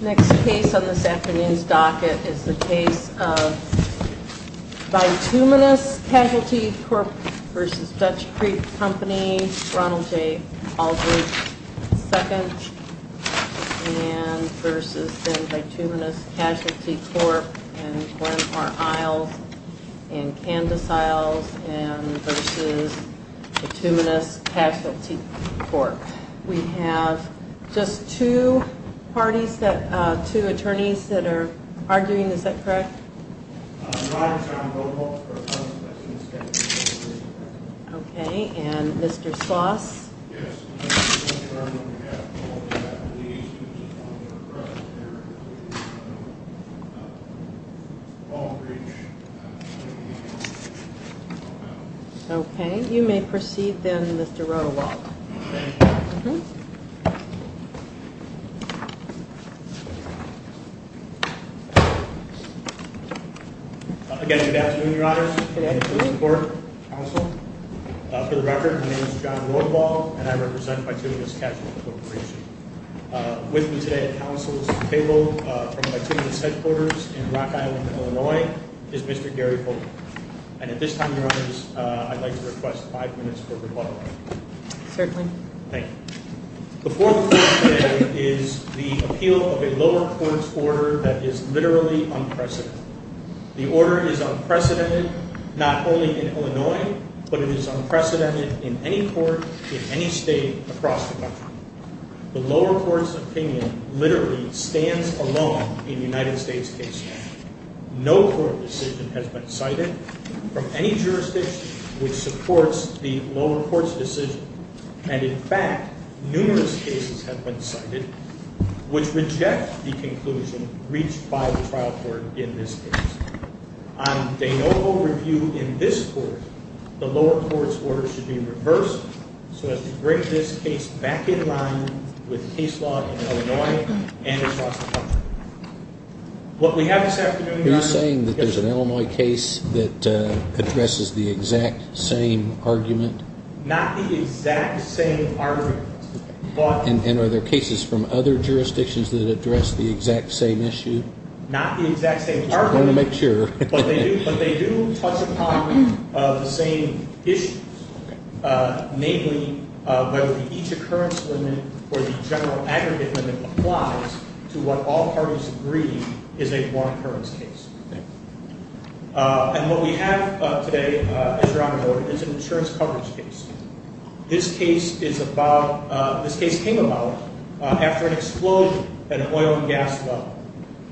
Next case on this afternoon's docket is the case of Bituminous Casualty Corp. v. Dutch Creek Co. Ronald J. Aldrich II v. Bituminous Casualty Corp. v. Glenmore Isles v. Candace Isles v. Bituminous Casualty Corp. We have just two parties that, two attorneys that are arguing, is that correct? I rise on Roe V. Waltz v. Constance. Okay, and Mr. Sloss? Yes, I am the attorney on behalf of all the attorneys who responded to the press here. Aldrich, I am the attorney on behalf of all the attorneys. Okay, you may proceed then Mr. Roe V. Waltz. Thank you. Again, good afternoon, Your Honor. Good afternoon. I'm the court counsel. For the record, my name is John Lorval, and I represent Bituminous Casualty Corporation. With me today at counsel's table from Bituminous headquarters in Rock Island, Illinois, is Mr. Gary Hogan. And at this time, Your Honors, I'd like to request five minutes for rebuttal. Certainly. Thank you. The Fourth Court today is the appeal of a lower court's order that is literally unprecedented. The order is unprecedented not only in Illinois, but it is unprecedented in any court in any state across the country. The lower court's opinion literally stands alone in the United States case. No court decision has been cited from any jurisdiction which supports the lower court's decision. And in fact, numerous cases have been cited which reject the conclusion reached by the trial court in this case. On de novo review in this court, the lower court's order should be reversed so as to bring this case back in line with case law in Illinois and across the country. What we have this afternoon- You're saying that there's an Illinois case that addresses the exact same argument? Not the exact same argument, but- And are there cases from other jurisdictions that address the exact same issue? Not the exact same argument- Just wanted to make sure. But they do touch upon the same issues, namely whether the each occurrence limit or the general aggregate limit applies to what all parties agree is a one occurrence case. And what we have today, as your Honor noted, is an insurance coverage case. This case came about after an explosion at an oil and gas well,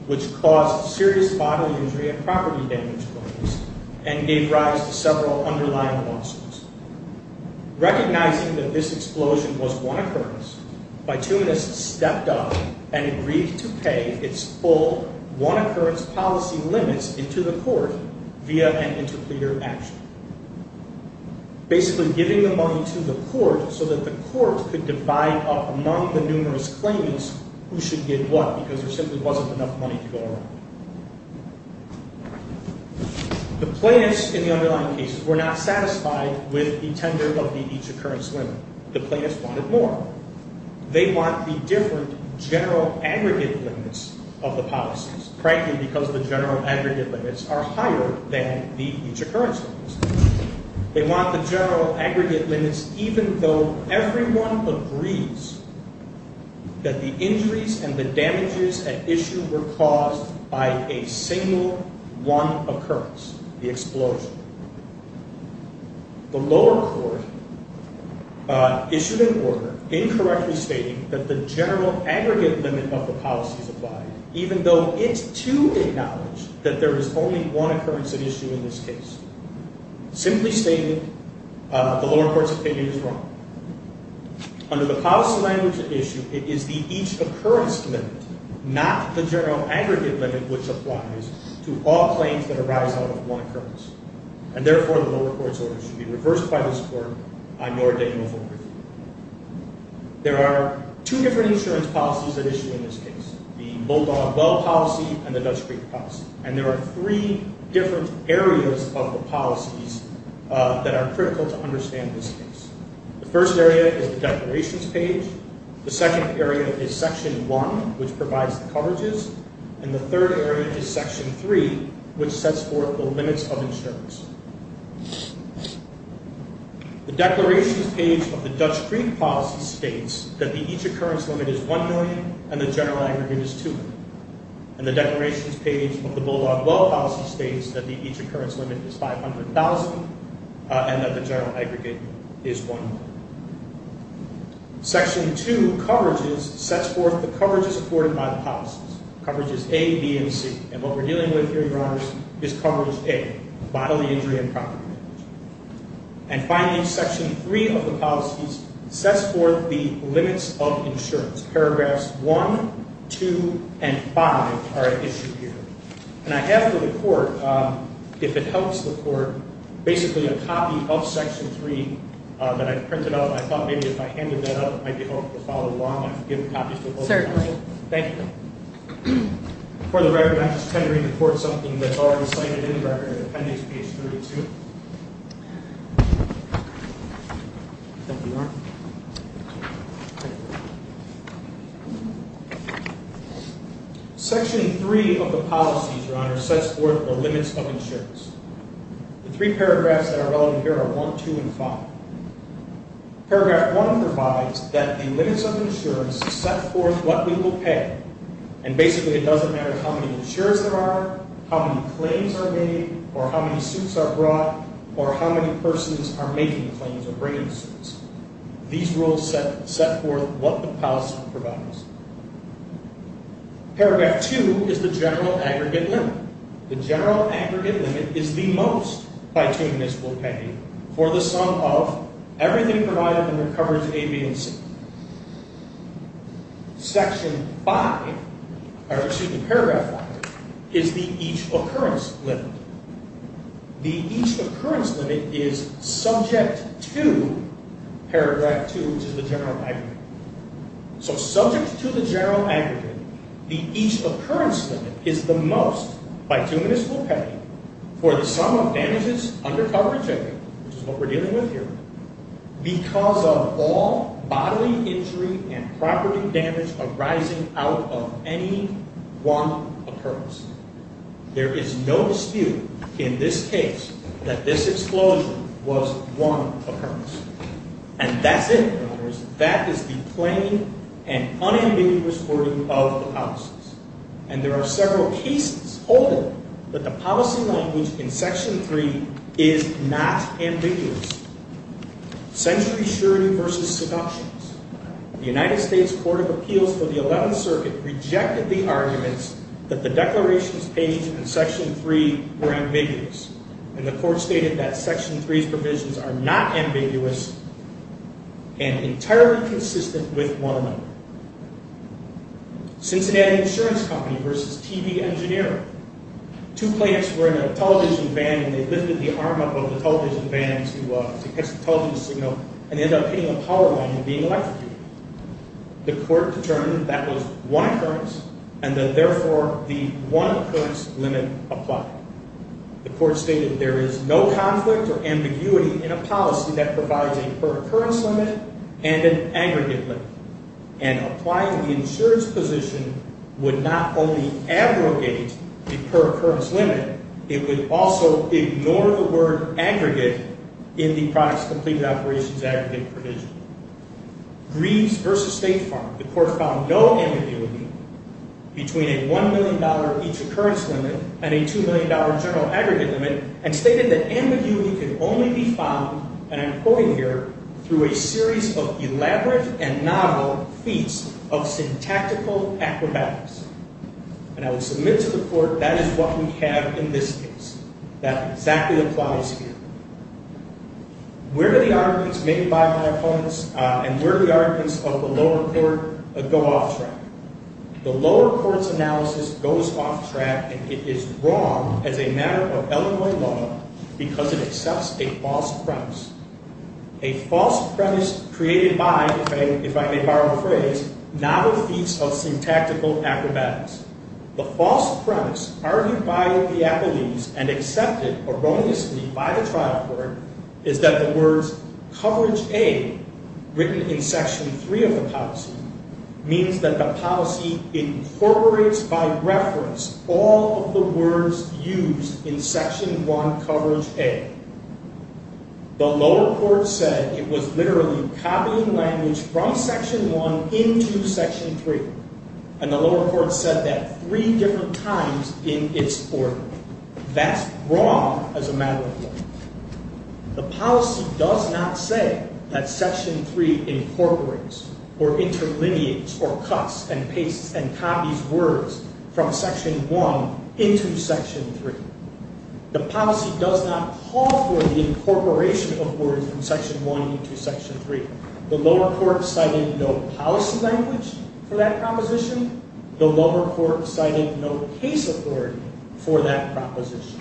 which caused serious bodily injury and property damage claims and gave rise to several underlying losses. Recognizing that this explosion was one occurrence, bituminous stepped up and agreed to pay its full one occurrence policy limits into the court via an interpleader action. Basically giving the money to the court so that the court could divide up among the numerous claims who should get what because there simply wasn't enough money to go around. The plaintiffs in the underlying cases were not satisfied with the tender of the each occurrence limit. The plaintiffs wanted more. They want the different general aggregate limits of the policies, frankly because the general aggregate limits are higher than the each occurrence limits. They want the general aggregate limits even though everyone agrees that the injuries and the damages at issue were caused by a single one occurrence, the explosion. The lower court issued an order incorrectly stating that the general aggregate limit of the policies apply even though it's to acknowledge that there is only one occurrence at issue in this case. Simply stating the lower court's opinion is wrong. Under the policy language at issue, it is the each occurrence limit, not the general aggregate limit, which applies to all claims that arise out of one occurrence. Therefore, the lower court's order should be reversed by this court. There are two different insurance policies at issue in this case. The Bulldog Bell policy and the Dutch Creek policy. There are three different areas of the policies that are critical to understand this case. The first area is the declarations page. The second area is section one, which provides the coverages. And the third area is section three, which sets forth the limits of insurance. The declarations page of the Dutch Creek policy states that the each occurrence limit is one million and the general aggregate is two million. And the declarations page of the Bulldog Bell policy states that the each occurrence limit is 500,000 and that the general aggregate is one million. Section two, coverages, sets forth the coverages afforded by the policies. Coverages A, B, and C. And what we're dealing with here, Your Honors, is coverage A, bodily injury and property damage. And finally, section three of the policies sets forth the limits of insurance. Paragraphs one, two, and five are at issue here. And I have for the court, if it helps the court, basically a copy of section three that I've printed out. I thought maybe if I handed that up, it might be helpful to follow along. I've given copies to both counsel. Certainly. Thank you. For the record, I'm just tendering the court something that's already cited in the record, appendix page 32. Thank you, Your Honor. Section three of the policies, Your Honor, sets forth the limits of insurance. The three paragraphs that are relevant here are one, two, and five. Paragraph one provides that the limits of insurance set forth what we will pay. And basically, it doesn't matter how many insurers there are, how many claims are made, or how many suits are brought, or how many persons are making claims or bringing suits. These rules set forth what the policy provides. Paragraph two is the general aggregate limit. The general aggregate limit is the most bituminous we'll pay for the sum of everything provided under coverage A, B, and C. Section five, or excuse me, paragraph five, is the each-occurrence limit. The each-occurrence limit is subject to paragraph two, which is the general aggregate. So subject to the general aggregate, the each-occurrence limit is the most bituminous we'll pay for the sum of damages under coverage A, which is what we're dealing with here, because of all bodily injury and property damage arising out of any one occurrence. There is no dispute in this case that this explosion was one occurrence. And that's it, Your Honors. That is the plain and unambiguous wording of the policies. And there are several cases holding that the policy language in section three is not ambiguous. Century surety versus seductions. The United States Court of Appeals for the 11th Circuit rejected the arguments that the declarations page in section three were ambiguous. And the court stated that section three's provisions are not ambiguous and entirely consistent with one another. Cincinnati Insurance Company versus TV Engineering. Two plaintiffs were in a television van, and they lifted the arm up over the television van to catch the television signal, and they ended up hitting a power line and being electrocuted. The court determined that that was one occurrence, and that, therefore, the one-occurrence limit applied. The court stated there is no conflict or ambiguity in a policy that provides a per-occurrence limit and an aggregate limit. And applying the insurance position would not only abrogate the per-occurrence limit, it would also ignore the word aggregate in the products completed operations aggregate provision. Greaves versus State Farm. The court found no ambiguity between a $1 million each occurrence limit and a $2 million general aggregate limit and stated that ambiguity can only be found, and I'm quoting here, through a series of elaborate and novel feats of syntactical acrobatics. And I will submit to the court that is what we have in this case. That exactly applies here. Where do the arguments made by my opponents and where do the arguments of the lower court go off track? The lower court's analysis goes off track and it is wrong as a matter of Illinois law because it accepts a false premise. A false premise created by, if I may borrow the phrase, novel feats of syntactical acrobatics. The false premise argued by the appellees and accepted erroneously by the trial court is that the words coverage A written in section 3 of the policy means that the policy incorporates by reference all of the words used in section 1 coverage A. The lower court said it was literally copying language from section 1 into section 3. And the lower court said that three different times in its order. That's wrong as a matter of law. The policy does not say that section 3 incorporates or interlineates or cuts and pastes and copies words from section 1 into section 3. The policy does not call for the incorporation of words from section 1 into section 3. The lower court cited no policy language for that proposition. The lower court cited no case authority for that proposition.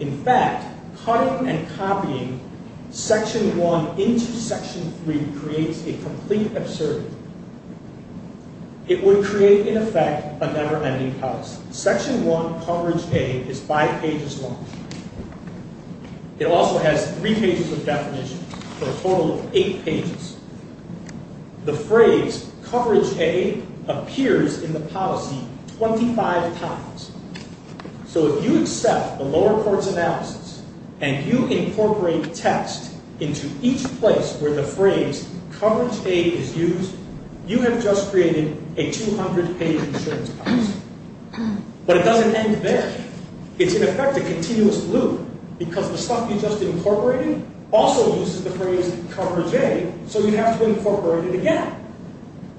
In fact, cutting and copying section 1 into section 3 creates a complete absurdity. It would create, in effect, a never-ending policy. Section 1 coverage A is five pages long. It also has three pages of definition for a total of eight pages. The phrase coverage A appears in the policy 25 times. So if you accept the lower court's analysis and you incorporate text into each place where the phrase coverage A is used, you have just created a 200-page insurance policy. But it doesn't end there. It's, in effect, a continuous loop because the stuff you just incorporated also uses the phrase coverage A, so you have to incorporate it again.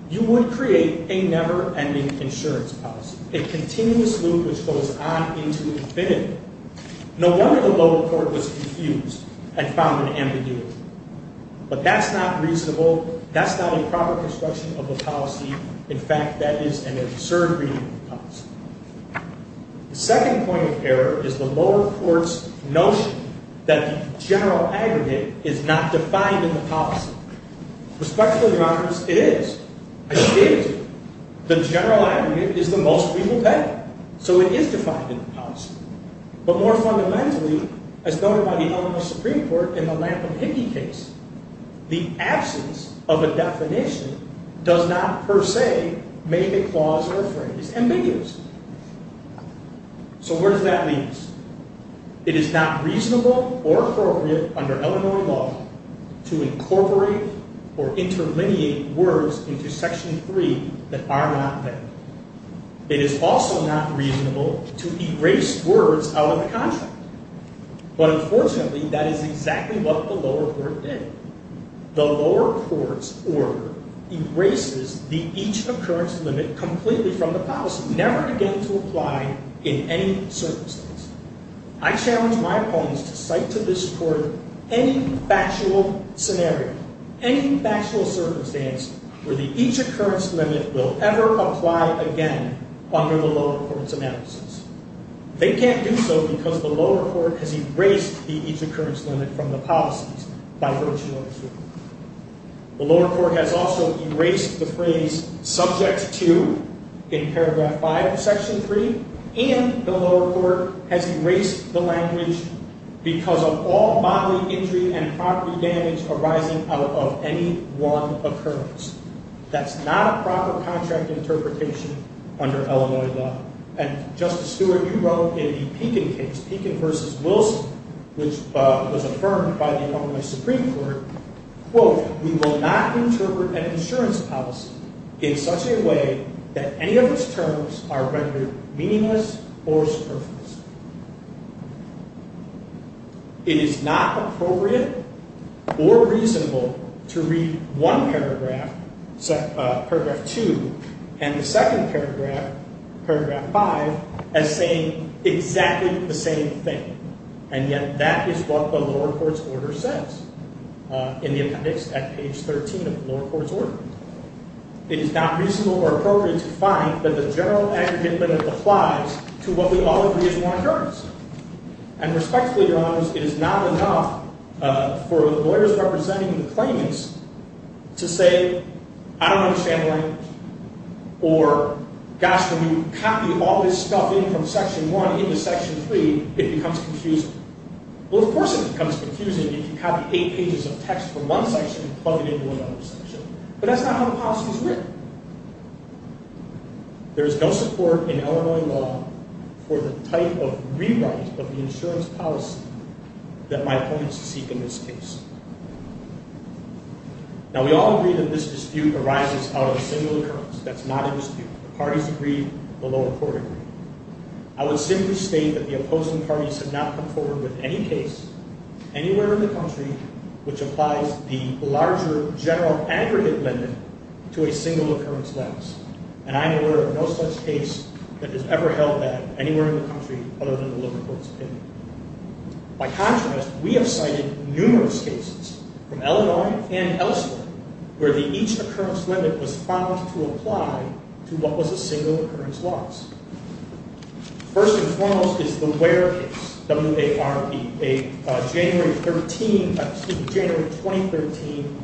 You would create a never-ending insurance policy, a continuous loop which goes on into infinity. No wonder the lower court was confused and found it ambiguous. But that's not reasonable. That's not a proper construction of a policy. In fact, that is an absurd reading of the policy. The second point of error is the lower court's notion that the general aggregate is not defined in the policy. Respectfully, Your Honor, it is. It is. The general aggregate is the most we will pay, so it is defined in the policy. But more fundamentally, as noted by the Illinois Supreme Court in the Lampen-Hickey case, the absence of a definition does not per se make a clause or a phrase ambiguous. So where does that leave us? It is not reasonable or appropriate under Illinois law to incorporate or interlineate words into Section 3 that are not there. It is also not reasonable to erase words out of the contract. But unfortunately, that is exactly what the lower court did. The lower court's order erases the each-occurrence limit completely from the policy, never again to apply in any circumstance. I challenge my opponents to cite to this court any factual scenario, any factual circumstance where the each-occurrence limit will ever apply again under the lower court's analysis. They can't do so because the lower court has erased the each-occurrence limit from the policies by virtue of the Supreme Court. The lower court has also erased the phrase, subject to, in paragraph 5 of Section 3, and the lower court has erased the language, because of all bodily injury and property damage arising out of any one occurrence. That's not a proper contract interpretation under Illinois law. And, Justice Stewart, you wrote in the Pekin case, Pekin v. Wilson, which was affirmed by the Illinois Supreme Court, quote, It is not appropriate or reasonable to read one paragraph, paragraph 2, and the second paragraph, paragraph 5, as saying exactly the same thing. And yet that is what the lower court's order says, in the appendix at page 13 of the lower court's order. It is not reasonable or appropriate to find that the general aggregate limit applies to what we all agree is one occurrence. And respectfully, Your Honors, it is not enough for the lawyers representing the claimants to say, I don't understand the language, or, gosh, when you copy all this stuff in from Section 1 into Section 3, it becomes confusing. Well, of course it becomes confusing if you copy 8 pages of text from one section and plug it into another section. But that's not how the policy is written. There is no support in Illinois law for the type of rewrite of the insurance policy that my opponents seek in this case. Now, we all agree that this dispute arises out of a single occurrence. That's not a dispute. The parties agree. The lower court agrees. I would simply state that the opposing parties have not come forward with any case anywhere in the country which applies the larger general aggregate limit to a single occurrence limit. And I am aware of no such case that has ever held that anywhere in the country other than the lower court's opinion. By contrast, we have cited numerous cases from Illinois and elsewhere where the each occurrence limit was found to apply to what was a single occurrence loss. First and foremost is the Ware case, W-A-R-E, a January 13, excuse me, January 2013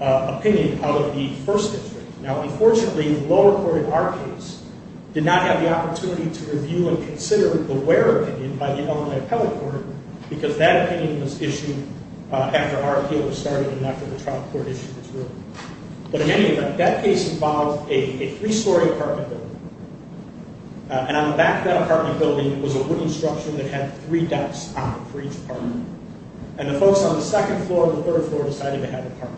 opinion out of the First District. Now, unfortunately, the lower court in our case did not have the opportunity to review and consider the Ware opinion by the Illinois Appellate Court because that opinion was issued after our appeal was started and after the trial court issued its ruling. But in any event, that case involved a three-story apartment building. And on the back of that apartment building was a wooden structure that had three decks on it for each apartment. And the folks on the second floor and the third floor decided to have a party.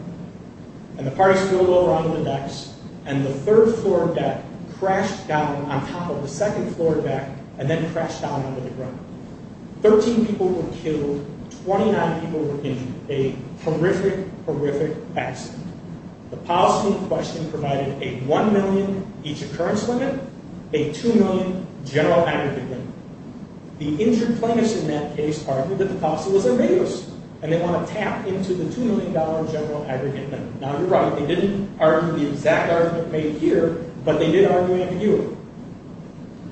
And the parties filled over onto the decks, and the third floor deck crashed down on top of the second floor deck and then crashed down onto the ground. Thirteen people were killed. Twenty-nine people were injured. A horrific, horrific accident. The policy in question provided a $1 million each occurrence limit, a $2 million general aggregate limit. The injured plaintiffs in that case argued that the policy was ambiguous, and they want to tap into the $2 million general aggregate limit. Now, you're right. They didn't argue the exact argument made here, but they did argue ambiguity.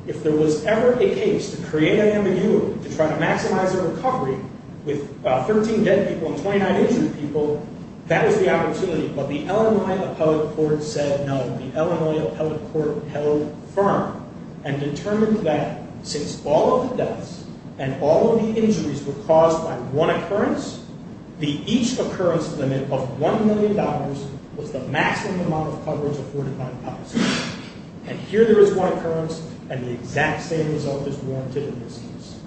If there was ever a case to create ambiguity to try to maximize the recovery with 13 dead people and 29 injured people, that was the opportunity. But the Illinois appellate court said no. The Illinois appellate court held firm and determined that since all of the deaths and all of the injuries were caused by one occurrence, the each occurrence limit of $1 million was the maximum amount of coverage afforded by the policy. And here there is one occurrence, and the exact same result is warranted in this case.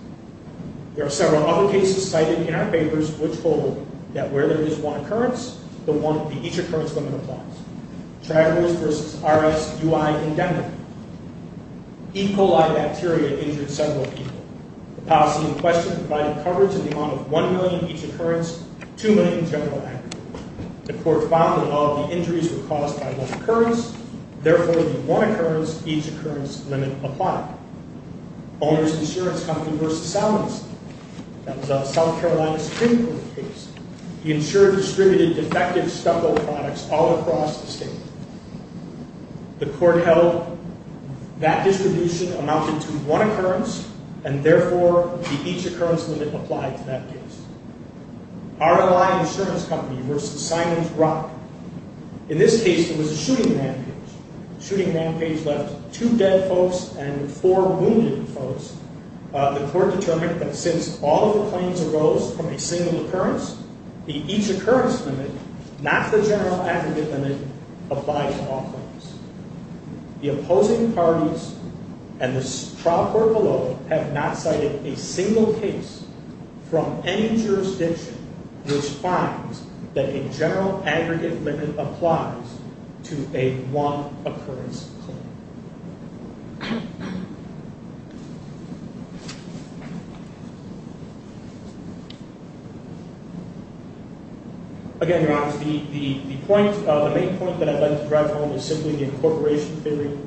There are several other cases cited in our papers which hold that where there is one occurrence, the each occurrence limit applies. Travers v. R.S. U.I. Indemnity. E. coli bacteria injured several people. The policy in question provided coverage in the amount of $1 million each occurrence, $2 million general aggregate. The court found that all of the injuries were caused by one occurrence, therefore the one occurrence, each occurrence limit applied. Owners Insurance Company v. Salmon City. That was a South Carolina Supreme Court case. The insurer distributed defective stucco products all across the state. The court held that distribution amounted to one occurrence, and therefore the each occurrence limit applied to that case. R.L.I. Insurance Company v. Simon's Rock. In this case it was a shooting rampage. The shooting rampage left two dead folks and four wounded folks. The court determined that since all of the claims arose from a single occurrence, the each occurrence limit, not the general aggregate limit, applied to all claims. The opposing parties and the trial court below have not cited a single case from any jurisdiction which finds that a general aggregate limit applies to a one occurrence claim. Again, Your Honor, the main point that I'd like to drive home is simply the incorporation theory.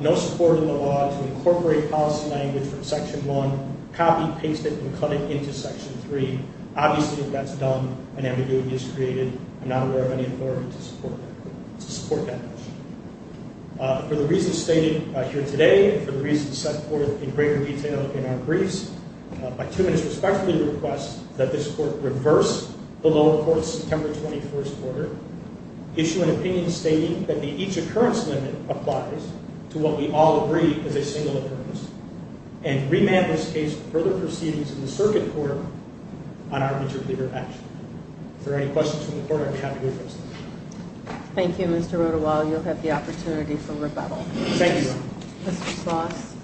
No support in the law to incorporate policy language from Section 1, copy, paste it, and cut it into Section 3. Obviously if that's done, an ambiguity is created. I'm not aware of any authority to support that. For the reasons stated here today, for the reasons set forth in greater detail in our briefs, my two minutes respectfully request that this court reverse the lower court's September 21st order, issue an opinion stating that the each occurrence limit applies to what we all agree is a single occurrence, and remand this case for further proceedings in the circuit court on arbitrary action. If there are any questions from the court, I'd be happy to address them. Thank you, Mr. Rodewall. You'll have the opportunity for rebuttal. Thank you, Your Honor. Mr. Sloss.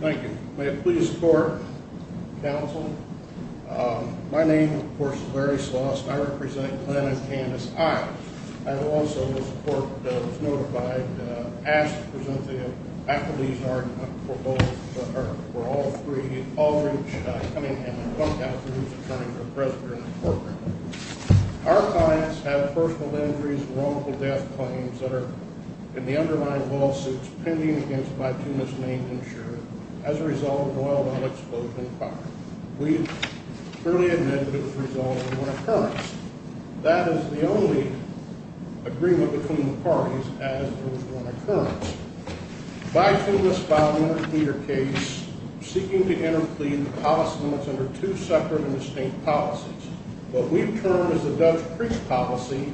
Thank you. May it please the court, counsel. My name, of course, is Larry Sloss, and I represent Glenn and Candace. I also, as the court was notified, ask to present the acquittees' argument for both, or for all three, Aldridge, Cunningham, and Comcast, whose attorneys are present here in the courtroom. Our clients have personal injuries and wrongful death claims that are in the underlying lawsuits pending against my two misnamed insurers, as a result of oil and unexploded fire. We have clearly admitted that it was a result of one occurrence. That is the only agreement between the parties, as there was one occurrence. By a two-miss file in our clear case, we're seeking to intercleave the policy limits under two separate and distinct policies. What we've termed as the Dutch Priest policy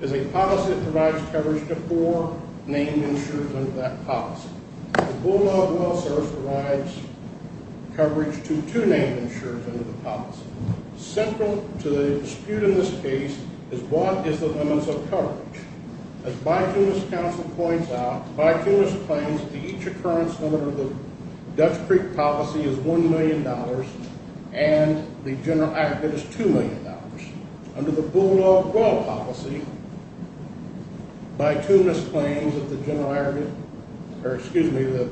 is a policy that provides coverage to four named insurers under that policy. The Bulldog Well Service provides coverage to two named insurers under the policy. Central to the dispute in this case is what is the limits of coverage. As by two-miss counsel points out, by two-miss claims, the each occurrence limit of the Dutch Creek policy is $1 million, and the general aggregate is $2 million. Under the Bulldog Well policy, by two-miss claims that the general aggregate, or excuse me, the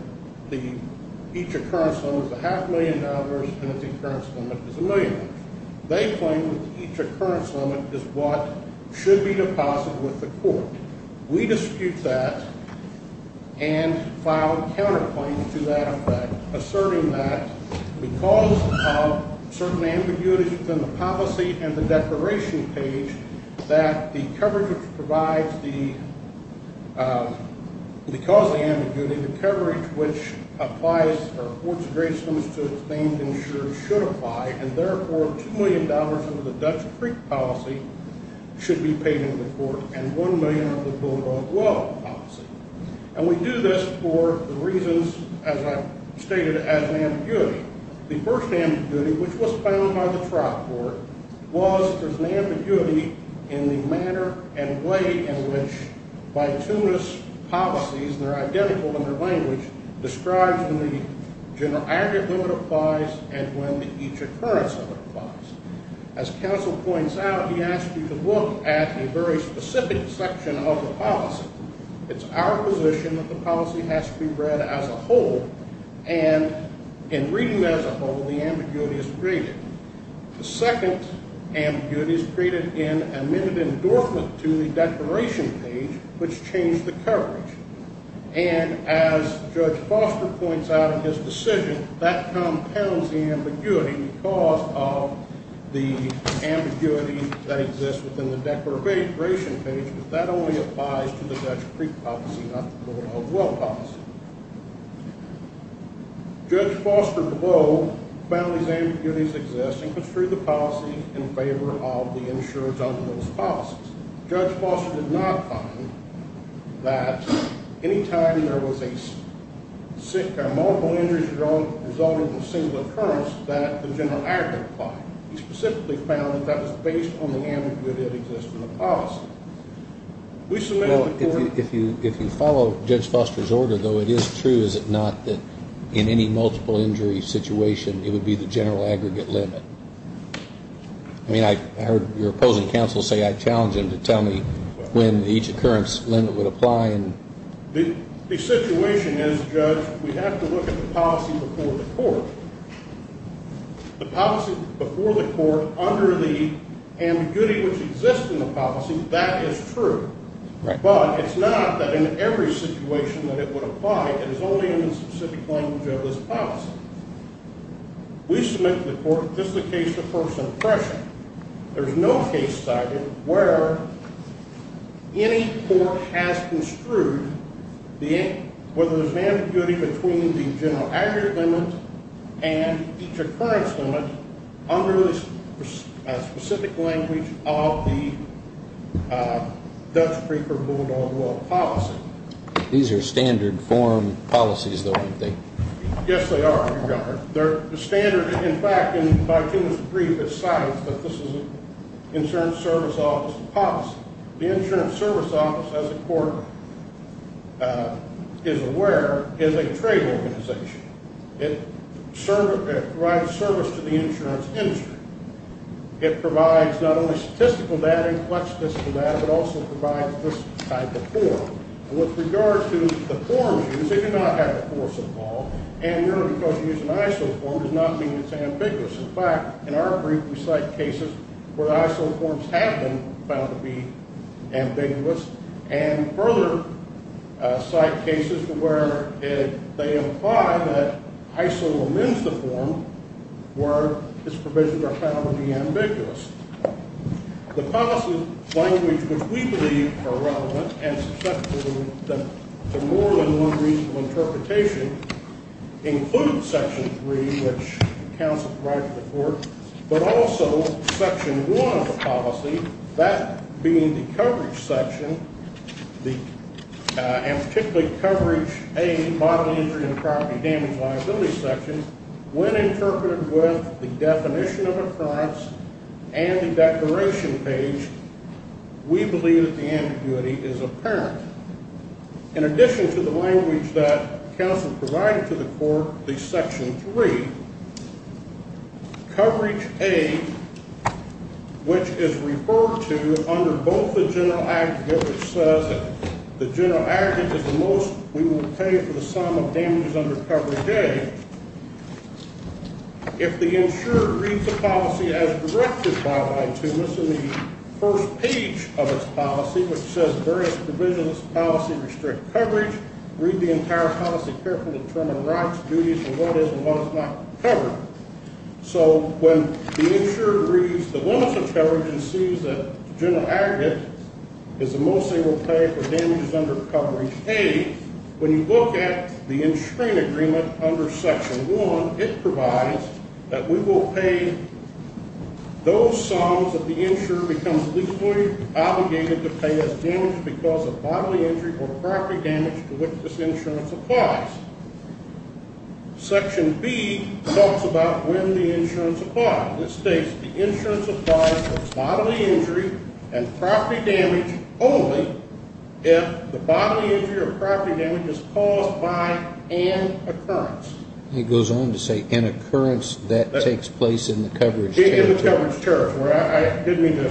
each occurrence limit is a half million dollars and the concurrence limit is a million. They claim that the each occurrence limit is what should be deposited with the court. We dispute that and file counterclaims to that effect, asserting that because of certain ambiguities within the policy and the declaration page, that the coverage which provides the, because of the ambiguity, the coverage which applies, or affords the great sums to the named insurers should apply, and therefore $2 million of the Dutch Creek policy should be paid into the court, and $1 million of the Bulldog Well policy. And we do this for the reasons as I've stated as an ambiguity. The first ambiguity, which was found by the trial court, was there's an ambiguity in the manner and way in which by two-miss policies, they're identical in their language, describes when the general aggregate limit applies and when the each occurrence limit applies. As counsel points out, he asked you to look at a very specific section of the policy. It's our position that the policy has to be read as a whole, and in reading as a whole, the ambiguity is created. The second ambiguity is created in a minute endorsement to the declaration page, which changed the coverage. And as Judge Foster points out in his decision, that compounds the ambiguity because of the ambiguity that exists within the declaration page, but that only applies to the Dutch Creek policy, not the Bulldog Well policy. Judge Foster, below, found these ambiguities exist and construed the policy in favor of the insurers on those policies. Judge Foster did not find that any time there was a multiple-injury drug resulting from a single occurrence that the general aggregate applied. He specifically found that that was based on the ambiguity that exists in the policy. If you follow Judge Foster's order, though, it is true, is it not, that in any multiple-injury situation it would be the general aggregate limit? I mean, I heard your opposing counsel say, I challenge him to tell me when the each occurrence limit would apply. The situation is, Judge, we have to look at the policy before the court. The policy before the court under the ambiguity which exists in the policy, that is true. But it's not that in every situation that it would apply. It is only in the specific language of this policy. We submit to the court just the case of first impression. There's no case study where any court has construed whether there's an ambiguity between the general aggregate limit and each occurrence limit under the specific language of the Dutch Preferred Bulldog Law policy. These are standard form policies, though, aren't they? Yes, they are, Your Honor. The standard, in fact, and I can't agree with the science, but this is an insurance service office policy. The insurance service office, as the court is aware, is a trade organization. It provides service to the insurance industry. It provides not only statistical data and flex statistical data, but also provides this type of form. With regard to the forms used, they do not have the force of law, and, Your Honor, because you use an ISO form does not mean it's ambiguous. In fact, in our brief, we cite cases where ISO forms have been found to be ambiguous and further cite cases where they imply that ISO amends the form where its provisions are found to be ambiguous. The policy language which we believe are relevant and susceptible to more than one reasonable interpretation, includes Section 3, which counsel provides for the court, but also Section 1 of the policy, that being the coverage section, and particularly coverage A, bodily injury and property damage liability section, when interpreted with the definition of occurrence and the declaration page, we believe that the ambiguity is apparent. In addition to the language that counsel provided to the court, the Section 3, coverage A, which is referred to under both the general aggregate, which says that the general aggregate is the most we will pay for the sum of damages under coverage A, if the insurer reads the policy as directed by Y. Tumas in the first page of its policy, which says various provisions of this policy restrict coverage, read the entire policy carefully to determine rights, duties, and what is and what is not covered. So when the insurer reads the limits of coverage and sees that the general aggregate is the most they will pay for damages under coverage A, when you look at the insuring agreement under Section 1, it provides that we will pay those sums that the insurer becomes legally obligated to pay as damage because of bodily injury or property damage to which this insurance applies. Section B talks about when the insurance applies. It states the insurance applies for bodily injury and property damage only if the bodily injury or property damage is caused by an occurrence. It goes on to say an occurrence that takes place in the coverage territory. In the coverage territory. I didn't mean to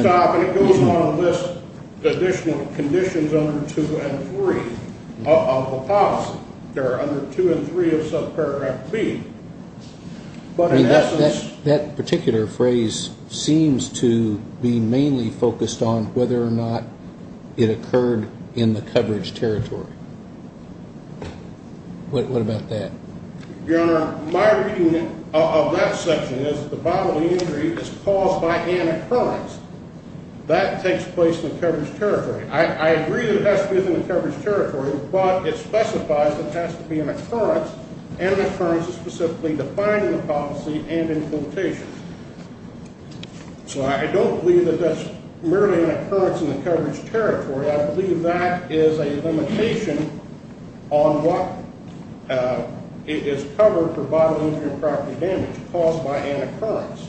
stop. And it goes on to list additional conditions under 2 and 3 of the policy. There are under 2 and 3 of subparagraph B. But in essence. That particular phrase seems to be mainly focused on whether or not it occurred in the coverage territory. What about that? Your Honor, my reading of that section is that the bodily injury is caused by an occurrence. That takes place in the coverage territory. I agree that it has to be in the coverage territory, but it specifies that it has to be an occurrence, and an occurrence is specifically defined in the policy and in quotations. So I don't believe that that's merely an occurrence in the coverage territory. I believe that is a limitation on what is covered for bodily injury and property damage caused by an occurrence.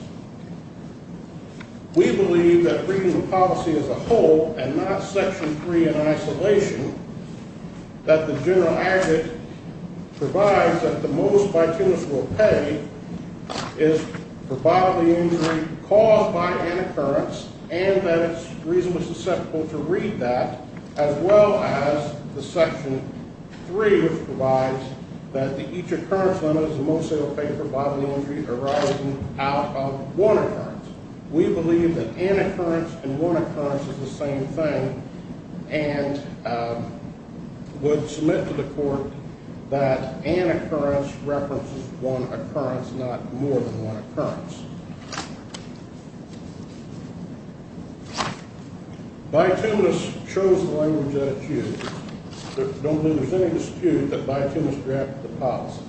We believe that reading the policy as a whole, and not section 3 in isolation, that the general aggregate provides that the most bytunus will pay is for bodily injury caused by an occurrence, and that it's reasonably susceptible to read that, as well as the section 3, which provides that each occurrence limit is the most it will pay for bodily injury arising out of one occurrence. We believe that an occurrence and one occurrence is the same thing, and would submit to the court that an occurrence references one occurrence, not more than one occurrence. Bytunus chose the language that it used. I don't believe there's any dispute that bytunus drafted the policy.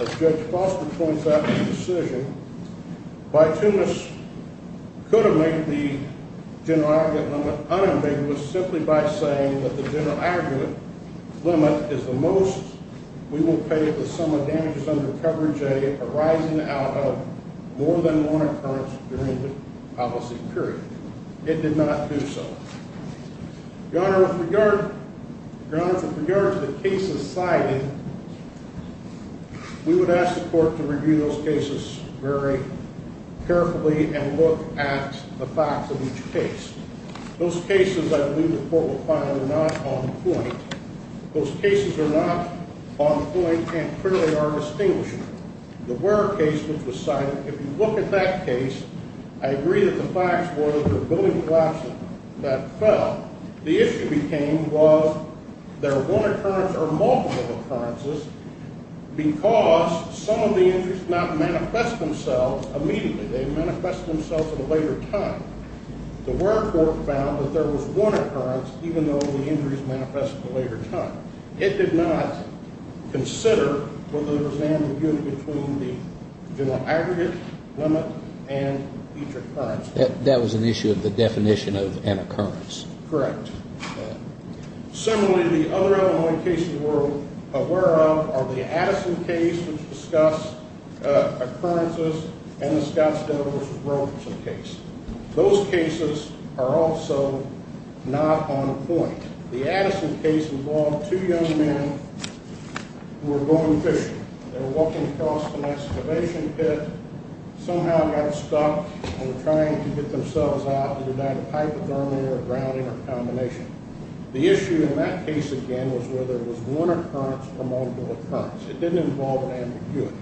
As Judge Foster points out in the decision, bytunus could have made the general aggregate limit unambiguous simply by saying that the general aggregate limit is the most we will pay the sum of damages under coverage A arising out of more than one occurrence during the policy period. It did not do so. Your Honor, with regard to the cases cited, we would ask the court to review those cases very carefully and look at the facts of each case. Those cases I believe the court will find are not on point. Those cases are not on point and clearly are distinguishing. The Ware case, which was cited, if you look at that case, I agree that the facts were there were building collapses that fell. The issue became was there were one occurrence or multiple occurrences because some of the injuries did not manifest themselves immediately. They manifested themselves at a later time. The Ware court found that there was one occurrence, even though the injuries manifested at a later time. It did not consider whether there was an ambiguity between the general aggregate limit and each occurrence. That was an issue of the definition of an occurrence. Correct. Similarly, the other Illinois cases we're aware of are the Addison case, which discussed occurrences, and the Scottsdale v. Roperson case. Those cases are also not on point. The Addison case involved two young men who were going fishing. They were walking across an excavation pit, somehow got stuck, and were trying to get themselves out. They did not have hypothermia or grounding or combination. The issue in that case, again, was whether it was one occurrence or multiple occurrence. It didn't involve an ambiguity.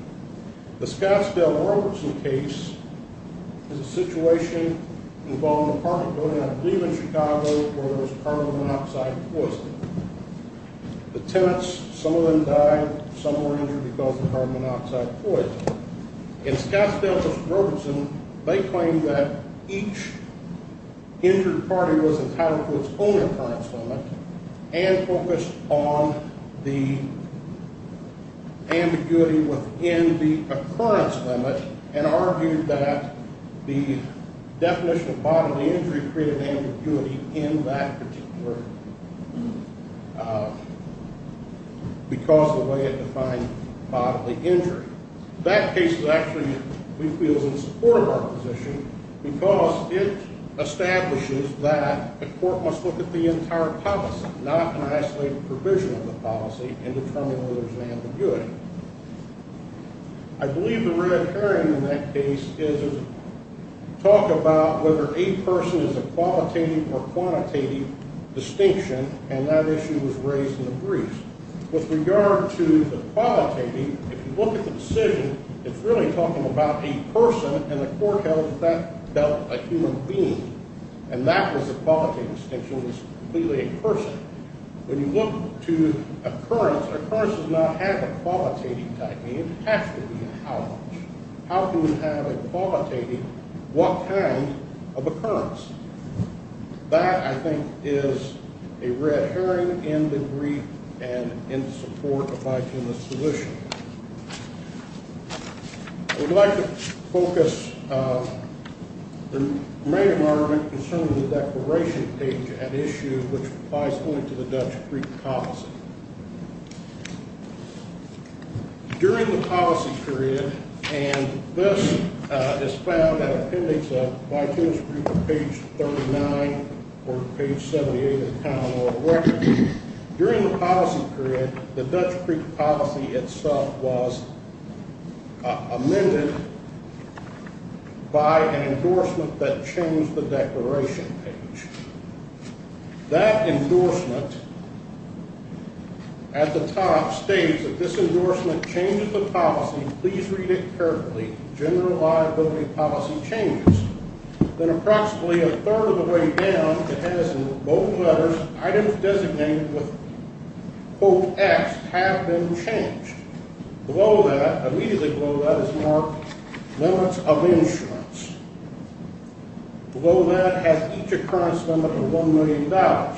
The Scottsdale v. Robertson case is a situation involving an apartment building, I believe in Chicago, where there was carbon monoxide poisoning. The tenants, some of them died, some were injured because of carbon monoxide poisoning. In Scottsdale v. Robertson, they claimed that each injured party was entitled to its own occurrence limit and focused on the ambiguity within the occurrence limit and argued that the definition of bodily injury created ambiguity in that particular case because of the way it defined bodily injury. That case is actually, we feel, in support of our position because it establishes that the court must look at the entire policy, not an isolated provision of the policy, in determining whether there's an ambiguity. I believe the red herring in that case is a talk about whether a person is a qualitative or quantitative distinction, and that issue was raised in the briefs. With regard to the qualitative, if you look at the decision, it's really talking about a person, and the court held that that dealt a human being, and that was a qualitative distinction. It was completely a person. When you look to occurrence, an occurrence does not have a qualitative type. It has to be a how much. How can we have a qualitative what kind of occurrence? That, I think, is a red herring in the brief and in support of Vitimus' position. I would like to focus the remaining argument concerning the declaration page at issue, which applies only to the Dutch Creek policy. During the policy period, and this is found in appendix of Vitimus' brief on page 39, or page 78 of the calendar of records. During the policy period, the Dutch Creek policy itself was amended by an endorsement that changed the declaration page. That endorsement at the top states that this endorsement changes the policy. Please read it carefully. General liability policy changes. Then approximately a third of the way down, it has in both letters, items designated with quote X have been changed. Below that, immediately below that is marked limits of insurance. Below that has each occurrence limit of $1 million.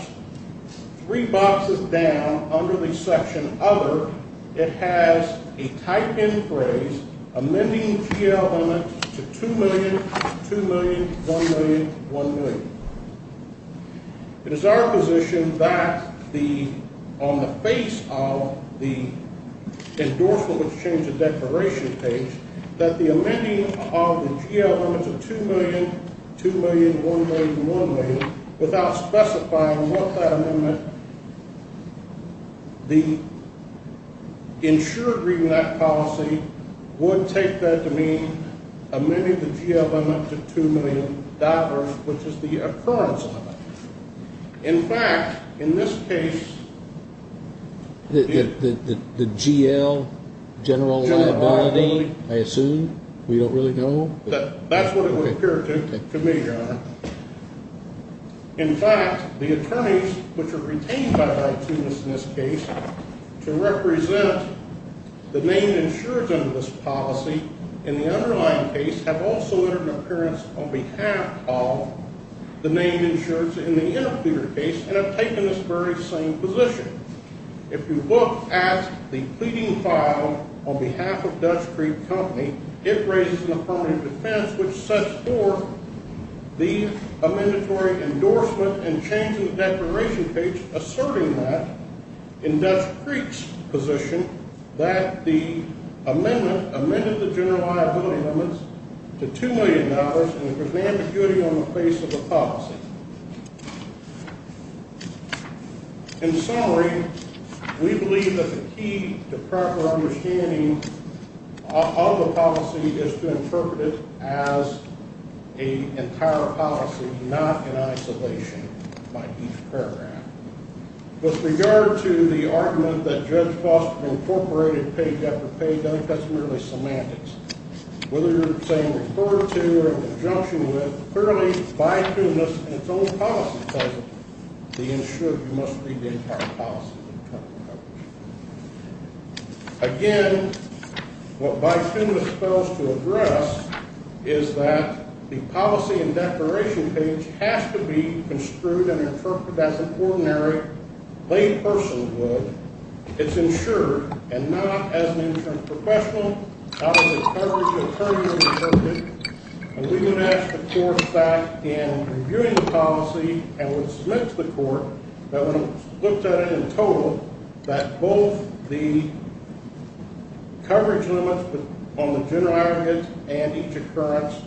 Three boxes down under the section other, it has a type in phrase, amending GL limit to $2 million, $2 million, $1 million, $1 million. It is our position that on the face of the endorsement that changed the declaration page, that the amending of the GL limit to $2 million, $2 million, $1 million, $1 million, without specifying what that amendment, the insured reading of that policy would take that to mean amending the GL limit to $2 million, which is the occurrence limit. In fact, in this case, the GL general liability, I assume we don't really know. That's what it would appear to me. In fact, the attorneys which are retained by this case to represent the main insurance under this policy in the underlying case have also entered an appearance on behalf of the main insurance in the interpleader case and have taken this very same position. If you look at the pleading file on behalf of Dutch Creek Company, it raises an affirmative defense which sets forth the amendatory endorsement and changing the declaration page asserting that in Dutch Creek's position that the amendment amended the general liability limits to $2 million and it presents impurity on the face of the policy. In summary, we believe that the key to proper understanding of the policy is to interpret it as an entire policy, not in isolation by each paragraph. With regard to the argument that Judge Foster incorporated page after page, I think that's merely semantics. Whether you're saying referred to or in conjunction with, clearly Bifumis in its own policy says that the insured must read the entire policy. Again, what Bifumis fails to address is that the policy and declaration page has to be construed and interpreted as an ordinary, plain person would. It's insured and not as an insurance professional out of the coverage of 30 years of service. We would ask the court staff in reviewing the policy and would submit to the court that when it was looked at in total, that both the coverage limits on the general items and each occurrence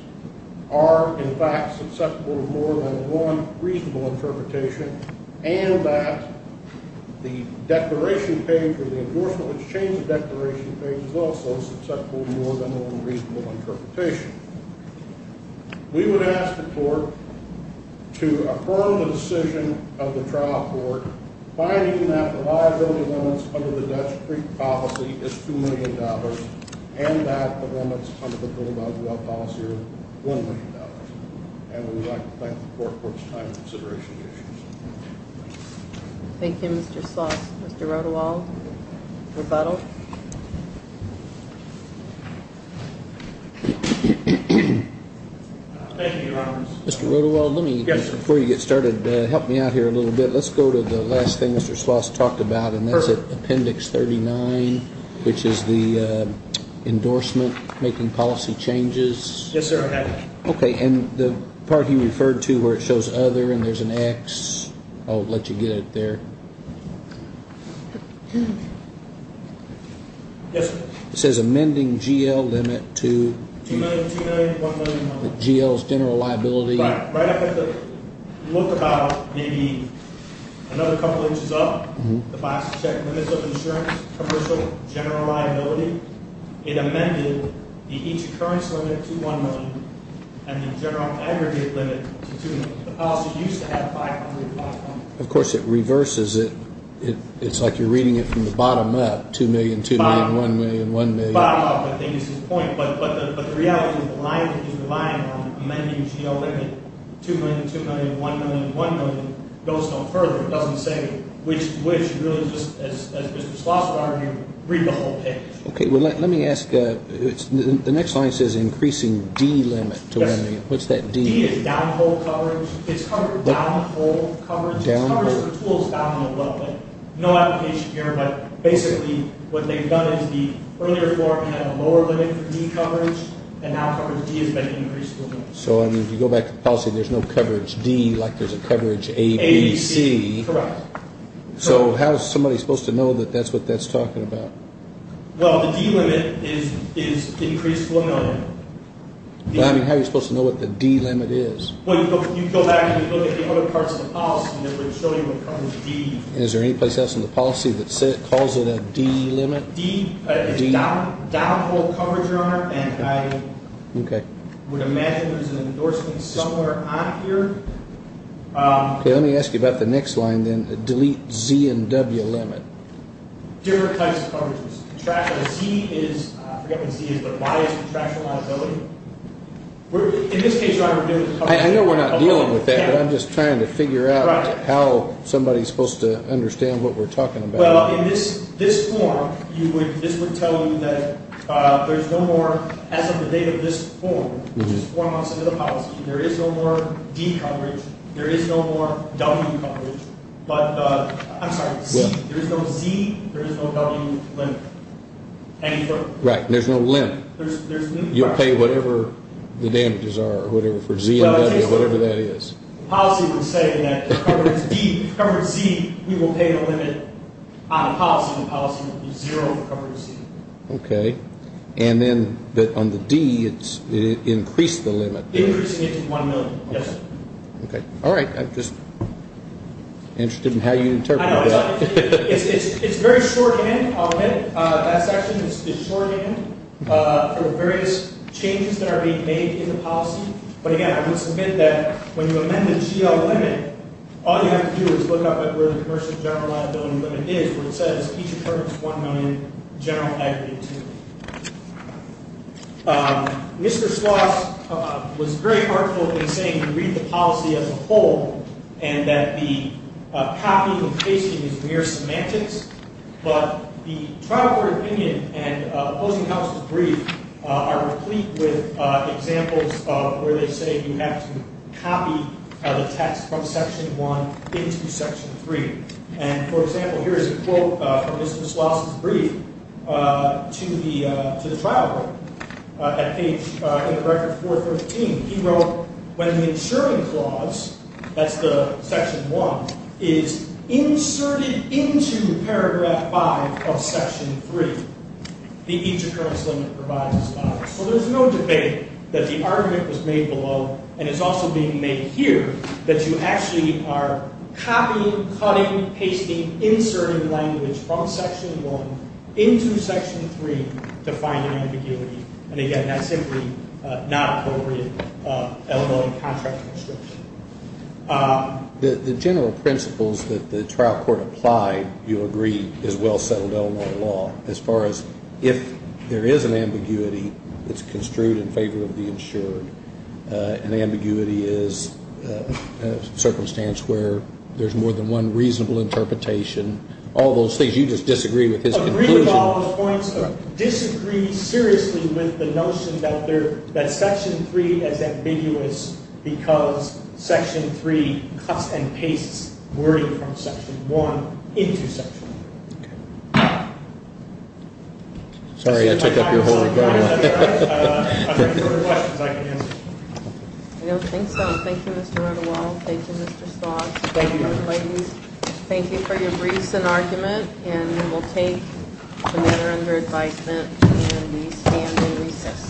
are, in fact, susceptible to more than one reasonable interpretation and that the declaration page or the endorsement which changed the declaration page is also susceptible to more than one reasonable interpretation. We would ask the court to affirm the decision of the trial court finding that the liability limits under the Dutch Creek policy is $2 million and that the limits under the Goldwell policy are $1 million. And we would like to thank the court for its time and consideration of the issues. Thank you, Mr. Sloss. Mr. Rodewald, rebuttal. Thank you, Your Honor. Mr. Rodewald, before you get started, help me out here a little bit. Let's go to the last thing Mr. Sloss talked about, and that's Appendix 39, which is the endorsement making policy changes. Yes, sir, I have it. Okay, and the part you referred to where it shows other and there's an X. I'll let you get it there. Yes, sir. It says amending GL limit to GL's general liability. Right. I have to look about maybe another couple inches up. The policy check limits of insurance, commercial, general liability. It amended the each occurrence limit to $1 million and the general aggregate limit to $2 million. The policy used to have $500,000. Of course, it reverses it. It's like you're reading it from the bottom up, $2 million, $2 million, $1 million, $1 million. Bottom up, I think, is the point. But the reality is relying on amending GL limit, $2 million, $2 million, $1 million, $1 million, goes no further. It doesn't say which, really, as Mr. Schlosser argued, read the whole page. Okay, well, let me ask. The next line says increasing D limit to 1 million. What's that D? D is downhole coverage. It's covered downhole coverage. Downhole. It's coverage for tools down the level. No application here, but basically what they've done is the earlier form had a lower limit for D coverage, and now coverage D has been increased to 1 million. So, I mean, if you go back to the policy, there's no coverage D like there's a coverage A, B, C. Correct. So how is somebody supposed to know that that's what that's talking about? Well, the D limit is increased to 1 million. I mean, how are you supposed to know what the D limit is? Well, you go back and you look at the other parts of the policy that would show you what coverage D is. Is there any place else in the policy that calls it a D limit? D is downhole coverage, Your Honor, and I would imagine there's an endorsement somewhere on here. Okay, let me ask you about the next line then, delete Z and W limit. Different types of coverages. Z is, I forget what Z is, but bias and traction liability. In this case, Your Honor, we're dealing with coverage. I know we're not dealing with that, but I'm just trying to figure out how somebody is supposed to understand what we're talking about. Well, in this form, this would tell you that there's no more, as of the date of this form, which is four months into the policy, there is no more D coverage, there is no more W coverage, but, I'm sorry, Z, there is no Z, there is no W limit. Right, there's no limit. You'll pay whatever the damages are, whatever, for Z and W, whatever that is. The policy would say that coverage D, coverage Z, we will pay the limit on the policy. The policy would be zero for coverage Z. Okay. And then on the D, it's increased the limit. Increasing it to one million. Yes, sir. Okay. All right. I'm just interested in how you interpret that. I know. It's very shorthand, I'll admit. That section is shorthand for the various changes that are being made in the policy. But, again, I would submit that when you amend the GL limit, all you have to do is look up at where the commercial general liability limit is, where it says each occurrence one million, general equity two million. Mr. Sloss was very heartful in saying we read the policy as a whole, and that the copying and pasting is mere semantics, but the trial court opinion and opposing house's brief are replete with examples of where they say you have to copy the text from section one into section three. And, for example, here is a quote from Mr. Sloss' brief to the trial court. In the record 413, he wrote, when the insuring clause, that's the section one, is inserted into paragraph five of section three, the each occurrence limit provides a spot. So there's no debate that the argument was made below, and is also being made here, that you actually are copying, cutting, pasting, inserting language from section one into section three to find an ambiguity. And, again, that's simply not appropriate Illinois contract constriction. The general principles that the trial court applied, you'll agree, is well-settled Illinois law as far as if there is an ambiguity, it's construed in favor of the insured, and ambiguity is a circumstance where there's more than one reasonable interpretation, all those things. You just disagree with his conclusion. I agree with all the points, but disagree seriously with the notion that section three is ambiguous because section three cuts and pastes wording from section one into section three. Okay. Sorry, I took up your whole agenda. I don't think so. Thank you, Mr. O'Donnell. Thank you, Mr. Sloss. Thank you, ladies. Thank you for your briefs and argument, and we'll take the matter under advisement, and we stand in recess.